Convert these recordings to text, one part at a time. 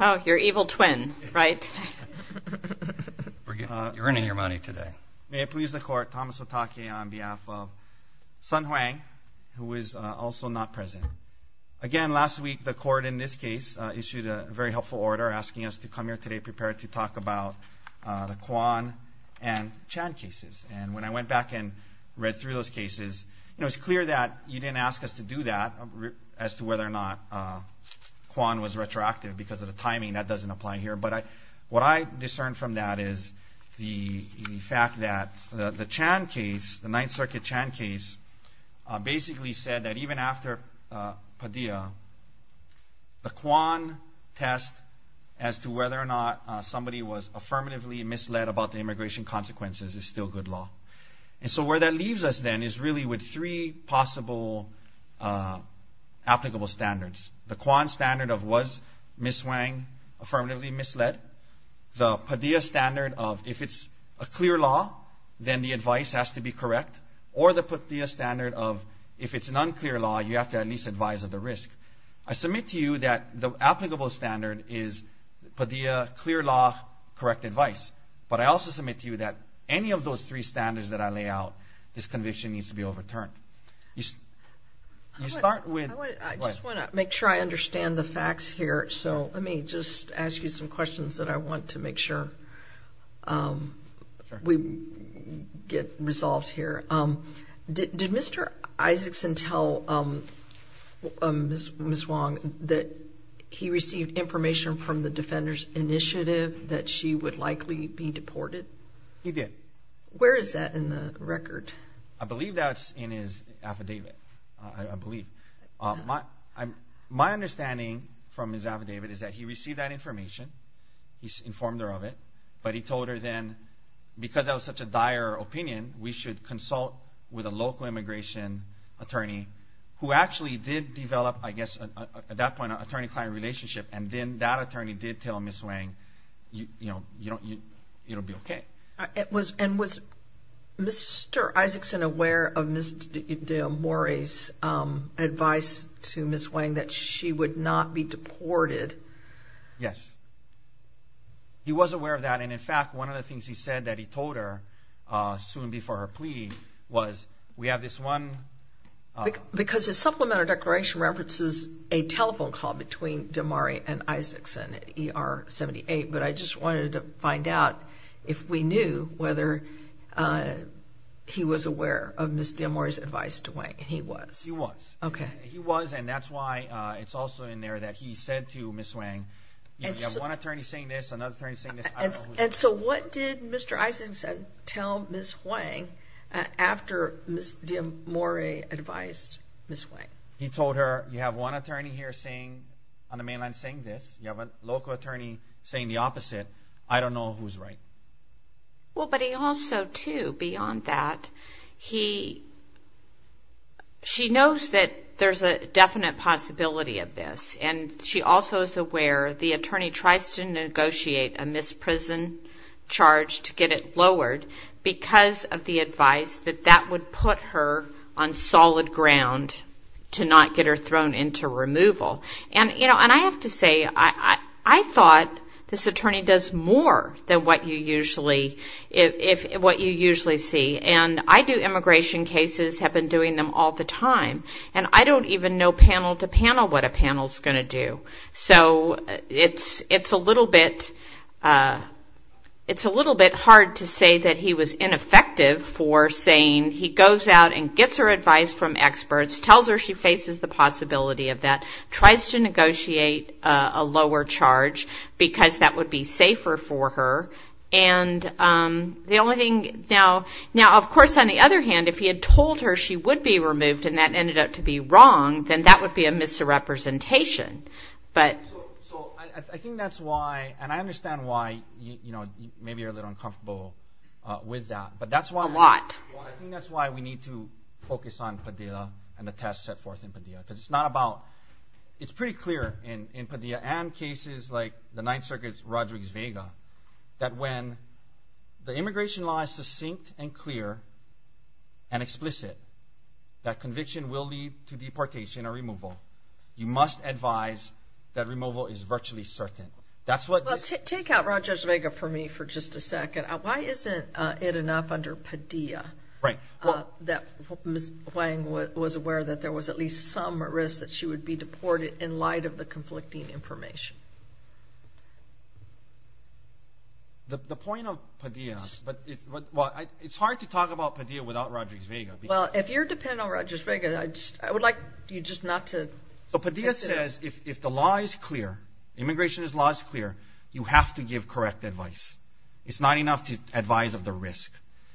on behalf of Sun Hwang, who is also not present. Again, last week the court in this case issued a very helpful order asking us to come here today prepared to talk about the Kwon and Chan cases. And when I went back and read through those cases, it's clear that you didn't ask us to do that, as to whether or not we were going to do that. So I'm going to ask you to take a look at what we're doing. Whether or not Kwon was retroactive because of the timing, that doesn't apply here. But what I discerned from that is the fact that the Chan case, the Ninth Circuit Chan case, basically said that even after Padilla, the Kwon test as to whether or not somebody was affirmatively misled about the immigration consequences is still good law. And so where that leaves us then is really with three possible applicable standards. The Kwon standard of was Ms. Hwang affirmatively misled, the Padilla standard of if it's a clear law, then the advice has to be correct, or the Padilla standard of if it's an unclear law, you have to at least advise of the risk. I submit to you that the applicable standard is Padilla, clear law, correct advice. But I also submit to you that any of those three standards that I lay out, this conviction needs to be overturned. I just want to make sure I understand the facts here, so let me just ask you some questions that I want to make sure we get resolved here. Did Mr. Isaacson tell Ms. Hwang that he received information from the Defenders Initiative that she would likely be deported? He did. Where is that in the record? I believe that's in his affidavit. I believe. My understanding from his affidavit is that he received that information. He informed her of it. But he told her then because that was such a dire opinion, we should consult with a local immigration attorney who actually did develop, I guess, at that point, an attorney-client relationship. And then that attorney did tell Ms. Hwang, you know, it'll be okay. And was Mr. Isaacson aware of Ms. Del Morey's advice to Ms. Hwang that she would not be deported? Yes. He was aware of that, and in fact, one of the things he said that he told her soon before her plea was, we have this one... He knew whether he was aware of Ms. Del Morey's advice to Hwang, and he was. He was. Okay. He was, and that's why it's also in there that he said to Ms. Hwang, you have one attorney saying this, another attorney saying this, I don't know who's right. And so what did Mr. Isaacson tell Ms. Hwang after Ms. Del Morey advised Ms. Hwang? He told her, you have one attorney here on the mainland saying this, you have a local attorney saying the opposite, I don't know who's right. Well, but he also, too, beyond that, he... She knows that there's a definite possibility of this, and she also is aware the attorney tries to negotiate a misprison charge to get it lowered because of the advice that that would put her on solid ground. To not get her thrown into removal. And I have to say, I thought this attorney does more than what you usually see. And I do immigration cases, have been doing them all the time, and I don't even know panel to panel what a panel's going to do. So it's a little bit hard to say that he was ineffective for saying he goes out and gets her advice from experts, tells her she faces the possibility of that, tries to negotiate a lower charge because that would be safer for her. Now, of course, on the other hand, if he had told her she would be removed and that ended up to be wrong, then that would be a misrepresentation. So I think that's why, and I understand why maybe you're a little uncomfortable with that. A lot. Well, I think that's why we need to focus on Padilla and the test set forth in Padilla. Because it's not about, it's pretty clear in Padilla and cases like the Ninth Circuit's Rodriguez-Vega that when the immigration law is succinct and clear and explicit that conviction will lead to deportation or removal, you must advise that removal is virtually certain. Well, take out Rodriguez-Vega for me for just a second. Why isn't it enough under Padilla that Ms. Wang was aware that there was at least some risk that she would be deported in light of the conflicting information? The point of Padilla, it's hard to talk about Padilla without Rodriguez-Vega. Well, if you're dependent on Rodriguez-Vega, I would like you just not to... So Padilla says if the law is clear, immigration law is clear, you have to give correct advice. It's not enough to advise of the risk.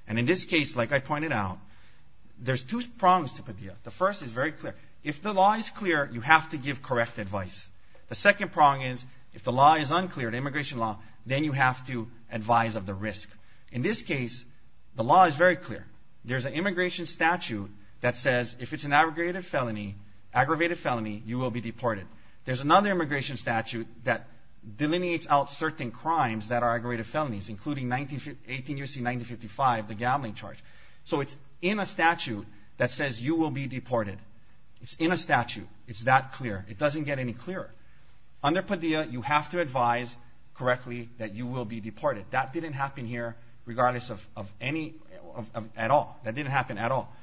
And in this case, like I pointed out, there's two prongs to Padilla. The first is very clear. If the law is clear, you have to give correct advice. The second prong is if the law is unclear, the immigration law, then you have to advise of the risk. In this case, the law is very clear. There's an immigration statute that says if it's an aggravated felony, you will be deported. There's another immigration statute that delineates out certain crimes that are aggravated felonies, including 18 U.C. 9055, the gambling charge. So it's in a statute that says you will be deported. It's in a statute. It's that clear. It doesn't get any clearer. Under Padilla, you have to advise correctly that you will be deported. That didn't happen here regardless of any at all. That didn't happen at all.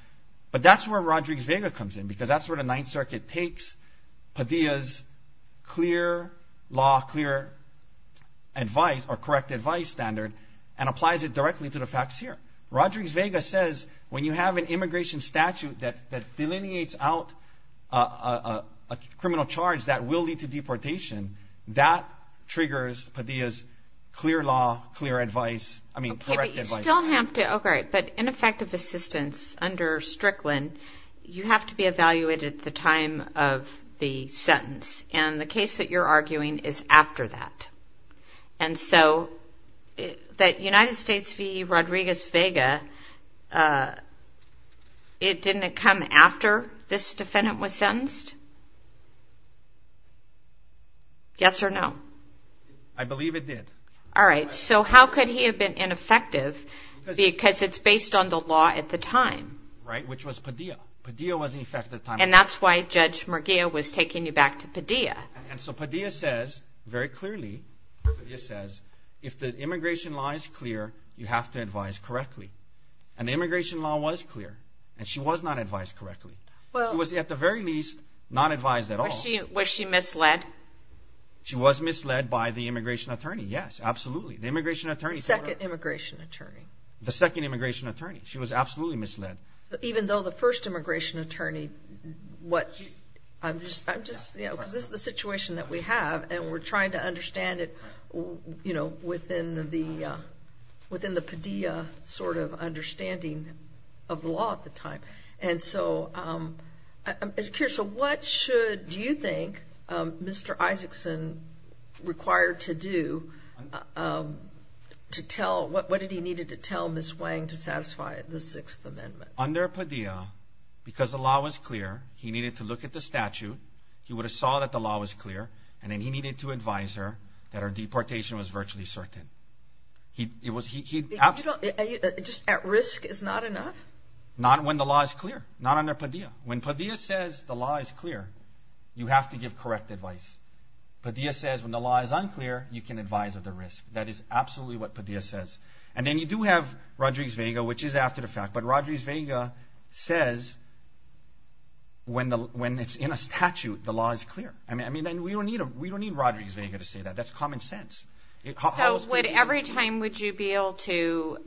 But that's where Rodriguez-Vega comes in because that's where the Ninth Circuit takes Padilla's clear law, clear advice or correct advice standard and applies it directly to the facts here. Rodriguez-Vega says when you have an immigration statute that delineates out a criminal charge that will lead to deportation, that triggers Padilla's clear law, clear advice, I mean, correct advice. Okay, but you still have to – okay, but ineffective assistance under Strickland, you have to be evaluated at the time of the sentence. And the case that you're arguing is after that. And so that United States v. Rodriguez-Vega, it didn't come after this defendant was sentenced? Yes or no? I believe it did. All right. So how could he have been ineffective because it's based on the law at the time? Right, which was Padilla. Padilla was in effect at the time. And that's why Judge Murguia was taking you back to Padilla. And so Padilla says very clearly, Padilla says if the immigration law is clear, you have to advise correctly. And the immigration law was clear. And she was not advised correctly. She was at the very least not advised at all. Was she misled? She was misled by the immigration attorney, yes, absolutely. The immigration attorney. The second immigration attorney. The second immigration attorney. She was absolutely misled. Even though the first immigration attorney, what, I'm just, you know, because this is the situation that we have, and we're trying to understand it, you know, within the Padilla sort of understanding of the law at the time. And so I'm curious, so what should, do you think, Mr. Isaacson required to do to tell, what did he needed to tell Ms. Wang to satisfy the Sixth Amendment? Under Padilla, because the law was clear, he needed to look at the statute. He would have saw that the law was clear. And then he needed to advise her that her deportation was virtually certain. He absolutely. Just at risk is not enough? Not when the law is clear. Not under Padilla. When Padilla says the law is clear, you have to give correct advice. Padilla says when the law is unclear, you can advise of the risk. That is absolutely what Padilla says. And then you do have Rodriguez-Vega, which is after the fact. But Rodriguez-Vega says when it's in a statute, the law is clear. I mean, we don't need Rodriguez-Vega to say that. That's common sense. So every time would you be able to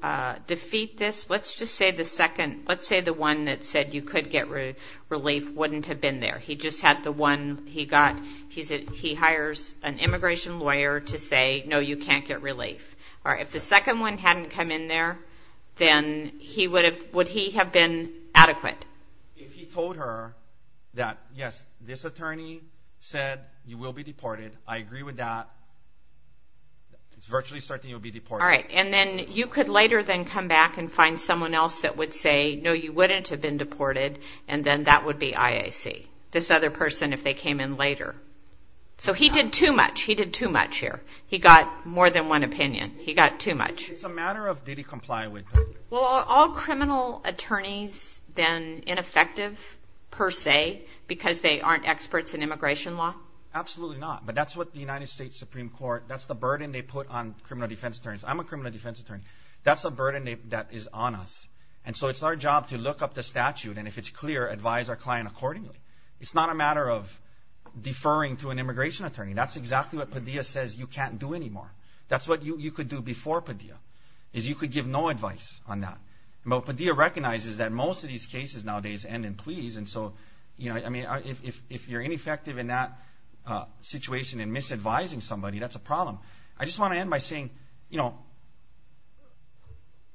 defeat this? Let's just say the second, let's say the one that said you could get relief wouldn't have been there. He just had the one he got. He hires an immigration lawyer to say, no, you can't get relief. If the second one hadn't come in there, then would he have been adequate? If he told her that, yes, this attorney said you will be deported, I agree with that, it's virtually certain you'll be deported. All right. And then you could later then come back and find someone else that would say, no, you wouldn't have been deported, and then that would be IAC, this other person if they came in later. So he did too much. He did too much here. He got more than one opinion. He got too much. It's a matter of did he comply with it. Well, are all criminal attorneys then ineffective per se because they aren't experts in immigration law? Absolutely not. But that's what the United States Supreme Court, that's the burden they put on criminal defense attorneys. I'm a criminal defense attorney. That's a burden that is on us. And so it's our job to look up the statute, and if it's clear, advise our client accordingly. It's not a matter of deferring to an immigration attorney. That's exactly what Padilla says you can't do anymore. That's what you could do before Padilla, is you could give no advice on that. But Padilla recognizes that most of these cases nowadays end in pleas, and so if you're ineffective in that situation in misadvising somebody, that's a problem. I just want to end by saying, you know,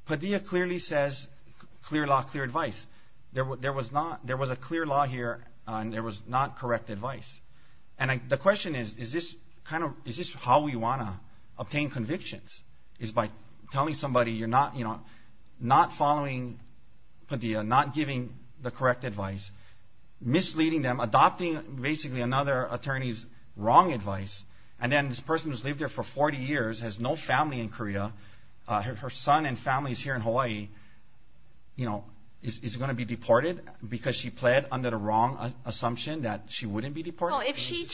Padilla clearly says clear law, clear advice. There was a clear law here, and there was not correct advice. And the question is, is this how we want to obtain convictions, is by telling somebody you're not following Padilla, not giving the correct advice, misleading them, adopting basically another attorney's wrong advice, and then this person who's lived there for 40 years, has no family in Korea, her son and family is here in Hawaii, you know, is going to be deported because she pled under the wrong assumption that she wouldn't be deported? Well, if she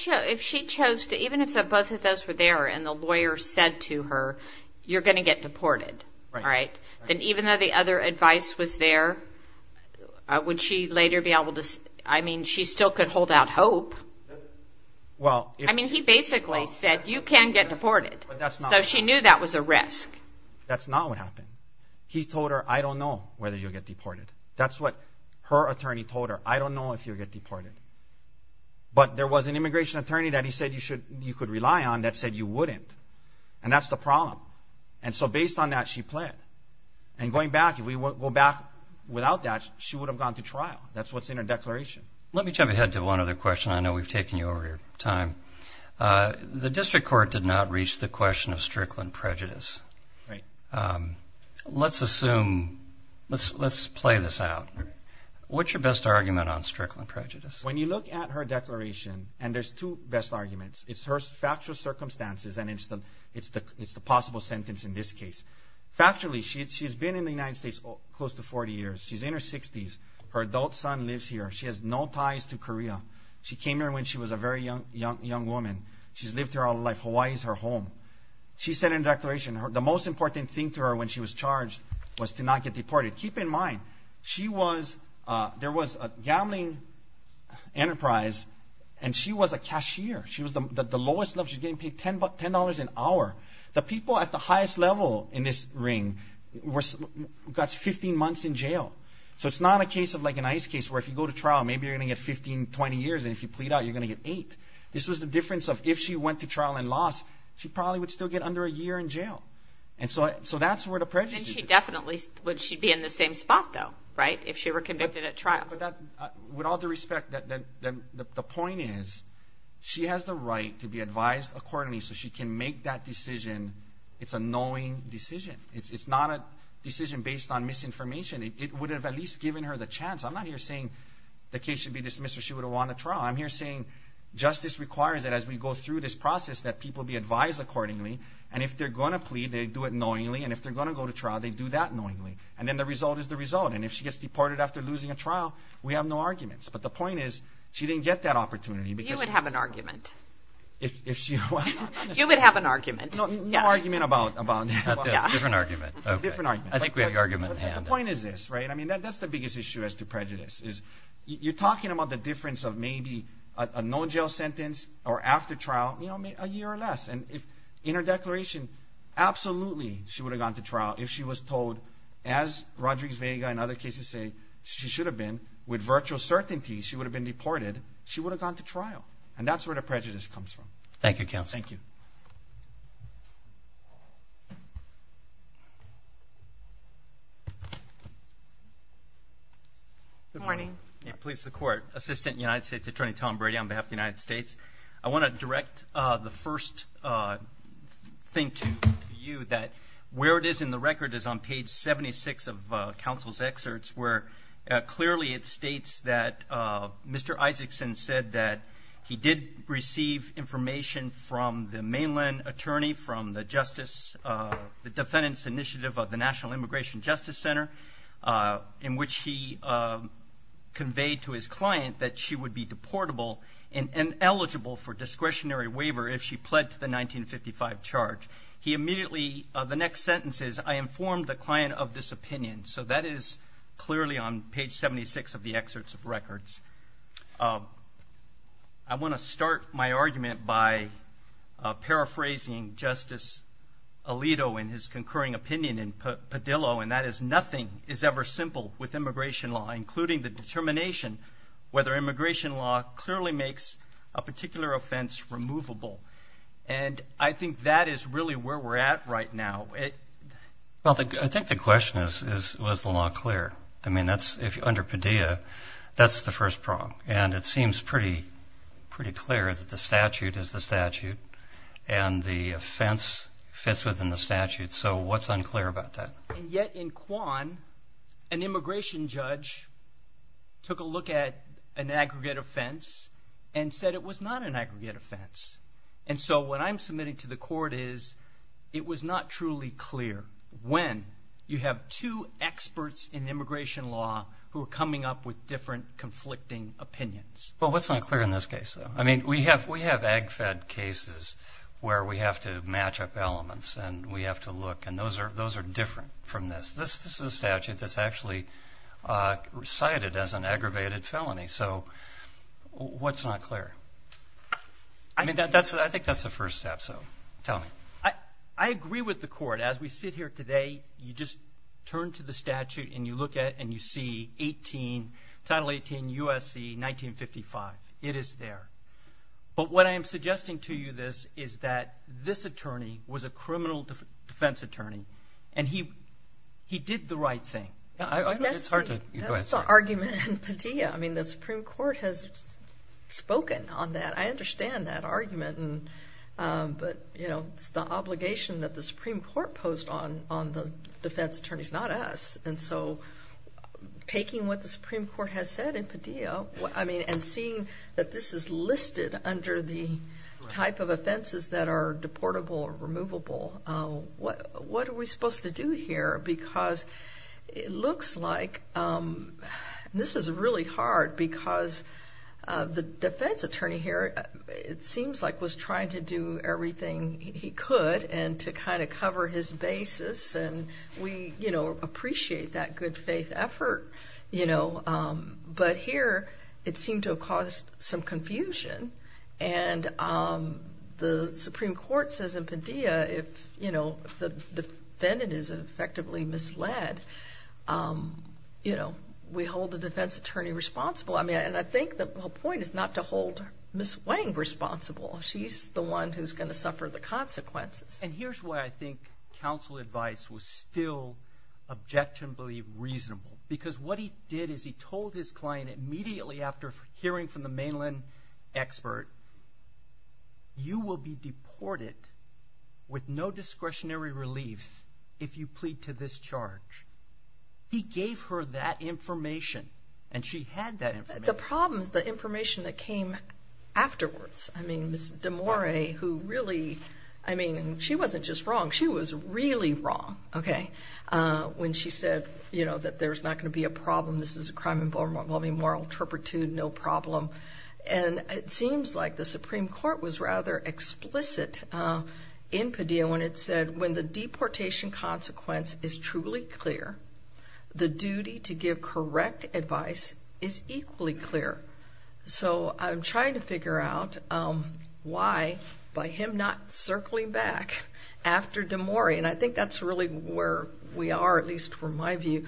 chose to, even if both of those were there and the lawyer said to her, you're going to get deported, right, then even though the other advice was there, would she later be able to, I mean, she still could hold out hope. I mean, he basically said, you can get deported, so she knew that was a risk. That's not what happened. He told her, I don't know whether you'll get deported. That's what her attorney told her, I don't know if you'll get deported. But there was an immigration attorney that he said you could rely on that said you wouldn't, and that's the problem. And so based on that, she pled. And going back, if we go back without that, she would have gone to trial. That's what's in her declaration. Let me jump ahead to one other question. I know we've taken you over your time. The district court did not reach the question of Strickland prejudice. Let's assume, let's play this out. What's your best argument on Strickland prejudice? When you look at her declaration, and there's two best arguments, it's her factual circumstances and it's the possible sentence in this case. Factually, she's been in the United States close to 40 years. She's in her 60s. Her adult son lives here. She has no ties to Korea. She came here when she was a very young woman. She's lived here all her life. Hawaii is her home. She said in her declaration the most important thing to her when she was charged was to not get deported. Keep in mind, there was a gambling enterprise and she was a cashier. She was the lowest level. She was getting paid $10 an hour. The people at the highest level in this ring got 15 months in jail. So it's not a case of like an ICE case where if you go to trial, maybe you're going to get 15, 20 years, and if you plead out, you're going to get eight. This was the difference of if she went to trial and lost, she probably would still get under a year in jail. So that's where the prejudice is. She definitely would be in the same spot, though, right, if she were convicted at trial. With all due respect, the point is she has the right to be advised accordingly so she can make that decision. It's a knowing decision. It's not a decision based on misinformation. It would have at least given her the chance. I'm not here saying the case should be dismissed or she would have won the trial. I'm here saying justice requires that as we go through this process that people be advised accordingly, and if they're going to plead, they do it knowingly, and if they're going to go to trial, they do that knowingly. And then the result is the result. And if she gets deported after losing a trial, we have no arguments. But the point is she didn't get that opportunity. You would have an argument. If she won. You would have an argument. No argument about this. Different argument. Different argument. I think we have the argument in hand. But the point is this, right? I mean, that's the biggest issue as to prejudice is you're talking about the difference of maybe a no-jail sentence or after trial, you know, a year or less. And in her declaration, absolutely she would have gone to trial if she was told, as Rodriguez-Vega and other cases say she should have been, with virtual certainty she would have been deported, she would have gone to trial. And that's where the prejudice comes from. Thank you, counsel. Thank you. Good morning. Please, the Court. Assistant United States Attorney Tom Brady on behalf of the United States. I want to direct the first thing to you, that where it is in the record is on page 76 of counsel's excerpts where clearly it states that Mr. Isaacson said that he did receive information from the mainland attorney, from the defendant's initiative of the National Immigration Justice Center, in which he conveyed to his client that she would be deportable and eligible for discretionary waiver if she pled to the 1955 charge. He immediately, the next sentence is, I informed the client of this opinion. So that is clearly on page 76 of the excerpts of records. I want to start my argument by paraphrasing Justice Alito in his concurring opinion in Padillo, and that is nothing is ever simple with immigration law, including the determination whether immigration law clearly makes a particular offense removable. And I think that is really where we're at right now. Well, I think the question is, was the law clear? I mean, under Padillo, that's the first problem, and it seems pretty clear that the statute is the statute and the offense fits within the statute. So what's unclear about that? And yet in Kwan, an immigration judge took a look at an aggregate offense and said it was not an aggregate offense. And so what I'm submitting to the court is it was not truly clear when. You have two experts in immigration law who are coming up with different conflicting opinions. Well, what's unclear in this case, though? I mean, we have AGFED cases where we have to match up elements and we have to look, and those are different from this. This is a statute that's actually cited as an aggravated felony. So what's not clear? I think that's the first step, so tell me. I agree with the court. As we sit here today, you just turn to the statute and you look at it and you see Title 18 U.S.C. 1955. It is there. But what I am suggesting to you is that this attorney was a criminal defense attorney, and he did the right thing. That's the argument in Padillo. I mean, the Supreme Court has spoken on that. I understand that argument. But, you know, it's the obligation that the Supreme Court posed on the defense attorneys, not us. And so taking what the Supreme Court has said in Padillo, I mean, and seeing that this is listed under the type of offenses that are deportable or removable, what are we supposed to do here? Because it looks like this is really hard because the defense attorney here, it seems like was trying to do everything he could and to kind of cover his basis. And we, you know, appreciate that good faith effort, you know. But here it seemed to have caused some confusion. And the Supreme Court says in Padillo if, you know, the defendant is effectively misled, you know, we hold the defense attorney responsible. I mean, and I think the point is not to hold Ms. Wang responsible. She's the one who's going to suffer the consequences. And here's why I think counsel advice was still objectively reasonable. Because what he did is he told his client immediately after hearing from the mainland expert, you will be deported with no discretionary relief if you plead to this charge. He gave her that information, and she had that information. The problem is the information that came afterwards. I mean, Ms. DeMora, who really, I mean, she wasn't just wrong. She was really wrong, okay, when she said, you know, that there's not going to be a problem. This is a crime involving moral turpitude, no problem. And it seems like the Supreme Court was rather explicit in Padillo when it said when the deportation consequence is truly clear, the duty to give correct advice is equally clear. So I'm trying to figure out why by him not circling back after DeMora. And I think that's really where we are, at least from my view.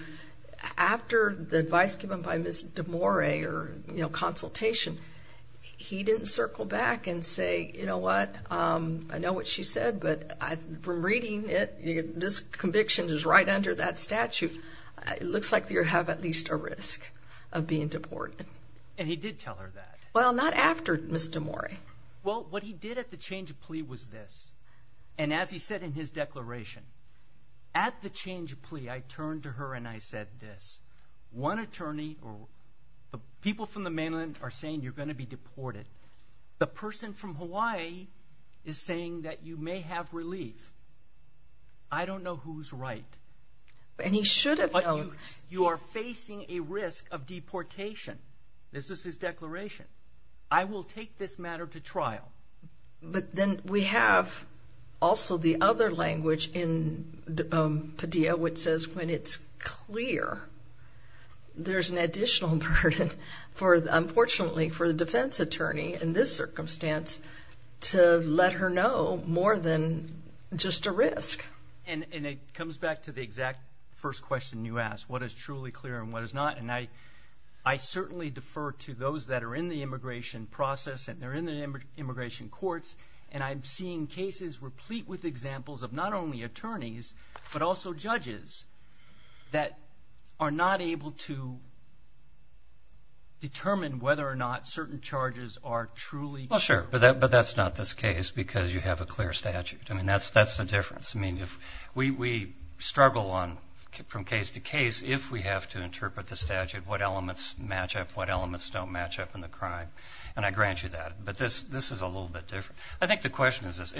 After the advice given by Ms. DeMora or, you know, consultation, he didn't circle back and say, you know what, I know what she said, but from reading it, this conviction is right under that statute. It looks like you have at least a risk of being deported. And he did tell her that? Well, not after Ms. DeMora. Well, what he did at the change of plea was this. And as he said in his declaration, at the change of plea, I turned to her and I said this. One attorney or people from the mainland are saying you're going to be deported. The person from Hawaii is saying that you may have relief. I don't know who's right. And he should have known. You are facing a risk of deportation. This is his declaration. I will take this matter to trial. But then we have also the other language in Padilla, which says when it's clear, there's an additional burden, unfortunately, for the defense attorney in this circumstance to let her know more than just a risk. And it comes back to the exact first question you asked, what is truly clear and what is not. And I certainly defer to those that are in the immigration process and they're in the immigration courts, and I'm seeing cases replete with examples of not only attorneys, but also judges that are not able to determine whether or not certain charges are truly clear. Well, sure, but that's not this case because you have a clear statute. I mean, that's the difference. I mean, we struggle from case to case if we have to interpret the statute, what elements match up, what elements don't match up in the crime. And I grant you that. But this is a little bit different. I think the question is this.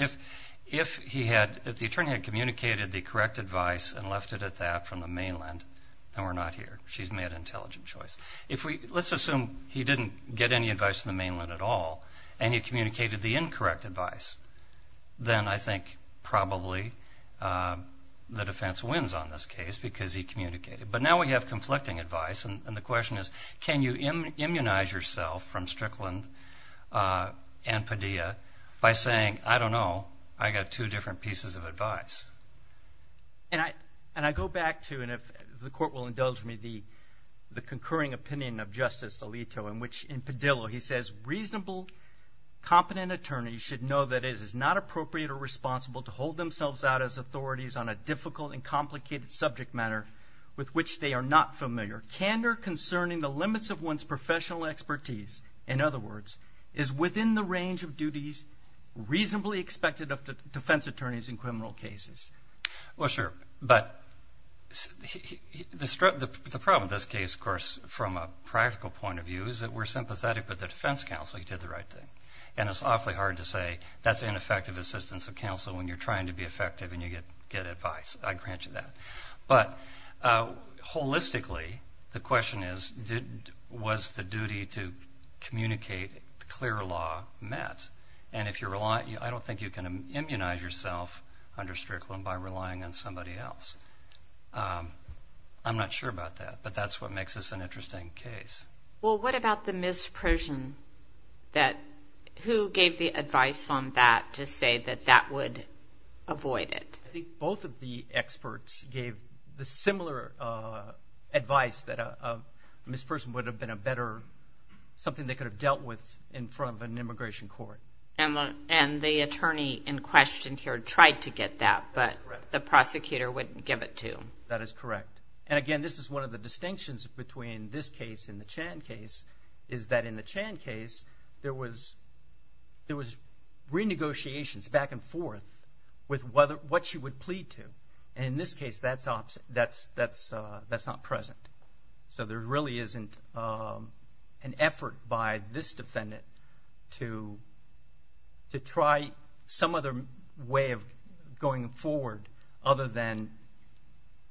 If the attorney had communicated the correct advice and left it at that from the mainland, then we're not here. She's made an intelligent choice. Let's assume he didn't get any advice from the mainland at all and he communicated the incorrect advice. Then I think probably the defense wins on this case because he communicated. But now we have conflicting advice, and the question is can you immunize yourself from Strickland and Padilla by saying, I don't know, I've got two different pieces of advice. And I go back to, and the court will indulge me, the concurring opinion of Justice Alito in which in Padilla he says, reasonable, competent attorneys should know that it is not appropriate or responsible to hold themselves out as authorities on a difficult and complicated subject matter with which they are not familiar. Candor concerning the limits of one's professional expertise, in other words, is within the range of duties reasonably expected of defense attorneys in criminal cases. Well, sure. But the problem with this case, of course, from a practical point of view, is that we're sympathetic with the defense counsel. He did the right thing. And it's awfully hard to say that's ineffective assistance of counsel when you're trying to be effective and you get advice. I grant you that. But holistically, the question is, was the duty to communicate clear law met? And I don't think you can immunize yourself under Strickland by relying on somebody else. I'm not sure about that. But that's what makes this an interesting case. Well, what about the misprision? Who gave the advice on that to say that that would avoid it? I think both of the experts gave the similar advice that a misperson would have been a better something they could have dealt with in front of an immigration court. And the attorney in question here tried to get that, but the prosecutor wouldn't give it to him. That is correct. And, again, this is one of the distinctions between this case and the Chan case, is that in the Chan case, there was renegotiations back and forth with what she would plead to. And in this case, that's not present. So there really isn't an effort by this defendant to try some other way of going forward other than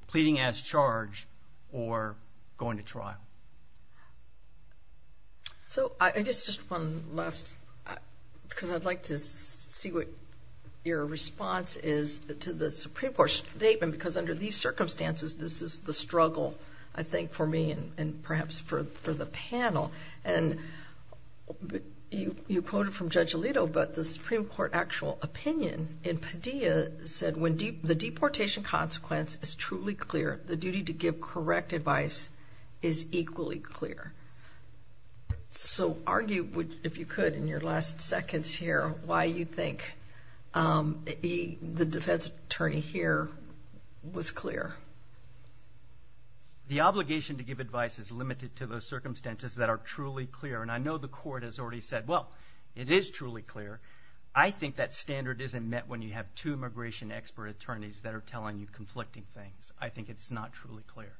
pleading as charged or going to trial. So I guess just one last, because I'd like to see what your response is to the Supreme Court statement, because under these circumstances, this is the struggle, I think, for me and perhaps for the panel. And you quoted from Judge Alito, but the Supreme Court actual opinion in Padilla said that when the deportation consequence is truly clear, the duty to give correct advice is equally clear. So argue, if you could, in your last seconds here, why you think the defense attorney here was clear. The obligation to give advice is limited to those circumstances that are truly clear. And I know the court has already said, well, it is truly clear. I think that standard isn't met when you have two immigration expert attorneys that are telling you conflicting things. I think it's not truly clear.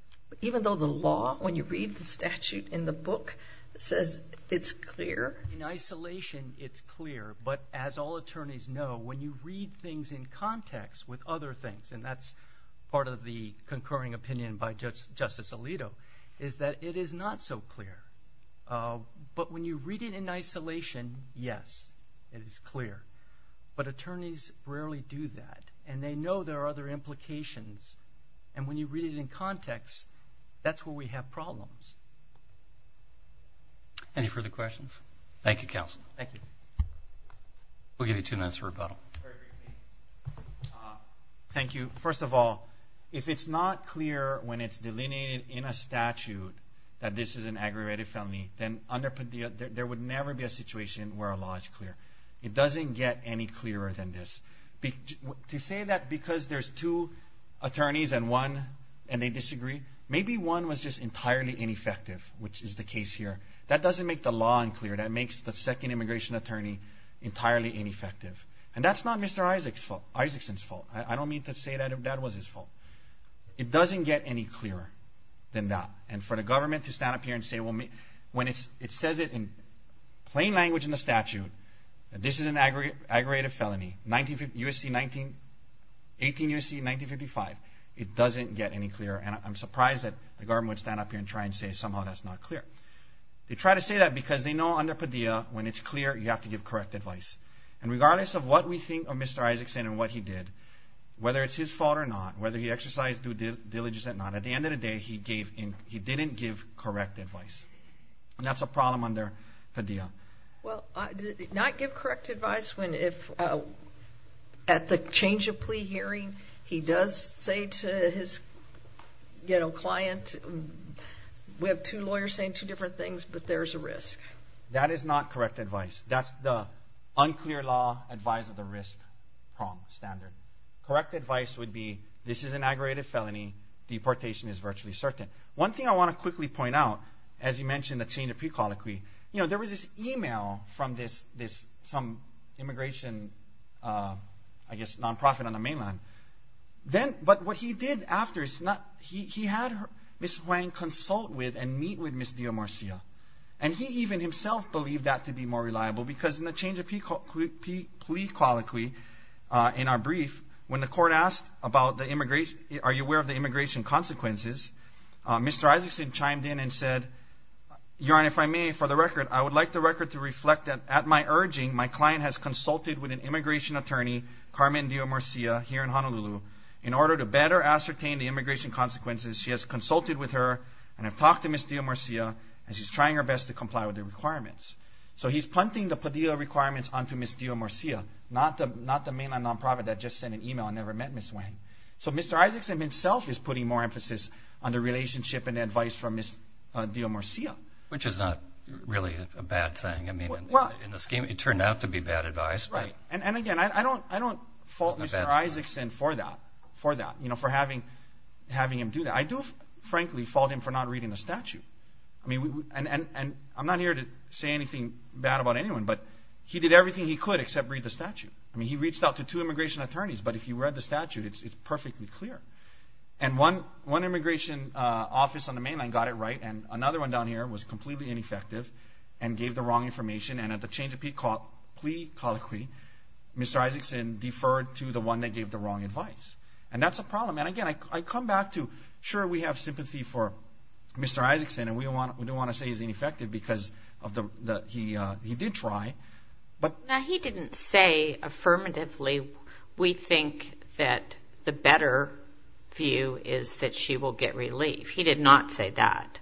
Even though the law, when you read the statute in the book, says it's clear? In isolation, it's clear. But as all attorneys know, when you read things in context with other things, and that's part of the concurring opinion by Justice Alito, is that it is not so clear. But when you read it in isolation, yes, it is clear. But attorneys rarely do that, and they know there are other implications. And when you read it in context, that's where we have problems. Any further questions? Thank you, counsel. Thank you. We'll give you two minutes for rebuttal. Thank you. First of all, if it's not clear when it's delineated in a statute that this is an aggravated felony, then there would never be a situation where a law is clear. It doesn't get any clearer than this. To say that because there's two attorneys and one, and they disagree, maybe one was just entirely ineffective, which is the case here. That doesn't make the law unclear. That makes the second immigration attorney entirely ineffective. And that's not Mr. Isaacson's fault. I don't mean to say that that was his fault. It doesn't get any clearer than that. And for the government to stand up here and say when it says it in plain language in the statute that this is an aggravated felony, 18 U.S.C., 1955, it doesn't get any clearer. And I'm surprised that the government would stand up here and try and say somehow that's not clear. They try to say that because they know under Padilla, when it's clear, you have to give correct advice. And regardless of what we think of Mr. Isaacson and what he did, whether it's his fault or not, whether he exercised due diligence or not, at the end of the day, he didn't give correct advice. And that's a problem under Padilla. Well, not give correct advice when at the change of plea hearing, he does say to his client, we have two lawyers saying two different things, but there's a risk. That is not correct advice. That's the unclear law, advise of the risk prong standard. Correct advice would be this is an aggravated felony. Deportation is virtually certain. One thing I want to quickly point out, as you mentioned the change of plea colloquy, there was this e-mail from some immigration, I guess, nonprofit on the mainland. But what he did after, he had Ms. Huang consult with and meet with Ms. Dio Marcia. And he even himself believed that to be more reliable because in the change of plea colloquy, in our brief, when the court asked about the immigration, are you aware of the immigration consequences, Mr. Isaacson chimed in and said, Your Honor, if I may, for the record, I would like the record to reflect that at my urging, my client has consulted with an immigration attorney, Carmen Dio Marcia, here in Honolulu, in order to better ascertain the immigration consequences. She has consulted with her and have talked to Ms. Dio Marcia, and she's trying her best to comply with the requirements. So he's punting the PDO requirements onto Ms. Dio Marcia, not the mainland nonprofit that just sent an e-mail and never met Ms. Huang. So Mr. Isaacson himself is putting more emphasis on the relationship and advice from Ms. Dio Marcia. Which is not really a bad thing. I mean, in the scheme, it turned out to be bad advice. And again, I don't fault Mr. Isaacson for that, for having him do that. I do, frankly, fault him for not reading the statute. And I'm not here to say anything bad about anyone, but he did everything he could except read the statute. I mean, he reached out to two immigration attorneys, but if you read the statute, it's perfectly clear. And one immigration office on the mainland got it right, and another one down here was completely ineffective and gave the wrong information. And at the change of plea colloquy, Mr. Isaacson deferred to the one that gave the wrong advice. And that's a problem. And again, I come back to, sure, we have sympathy for Mr. Isaacson, and we don't want to say he's ineffective because he did try. Now, he didn't say affirmatively, we think that the better view is that she will get relief. He did not say that.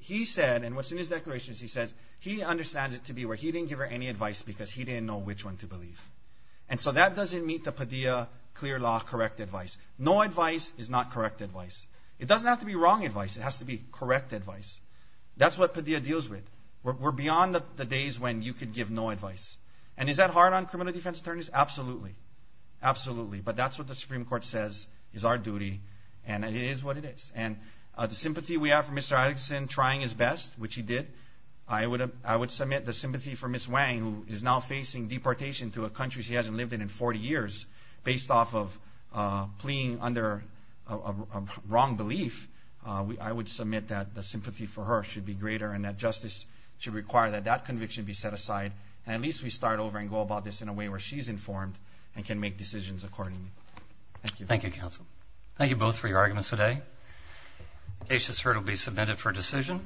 He said, and what's in his declaration is he says he understands it to be where he didn't give her any advice because he didn't know which one to believe. And so that doesn't meet the Padilla clear law correct advice. No advice is not correct advice. It doesn't have to be wrong advice. It has to be correct advice. That's what Padilla deals with. We're beyond the days when you could give no advice. And is that hard on criminal defense attorneys? Absolutely. Absolutely. But that's what the Supreme Court says is our duty, and it is what it is. And the sympathy we have for Mr. Isaacson trying his best, which he did, I would submit the sympathy for Ms. Wang, who is now facing deportation to a country she hasn't lived in in 40 years, based off of pleading under a wrong belief, I would submit that the sympathy for her should be greater and that justice should require that that conviction be set aside. And at least we start over and go about this in a way where she's informed and can make decisions accordingly. Thank you. Thank you, counsel. Thank you both for your arguments today. Aces heard will be submitted for decision.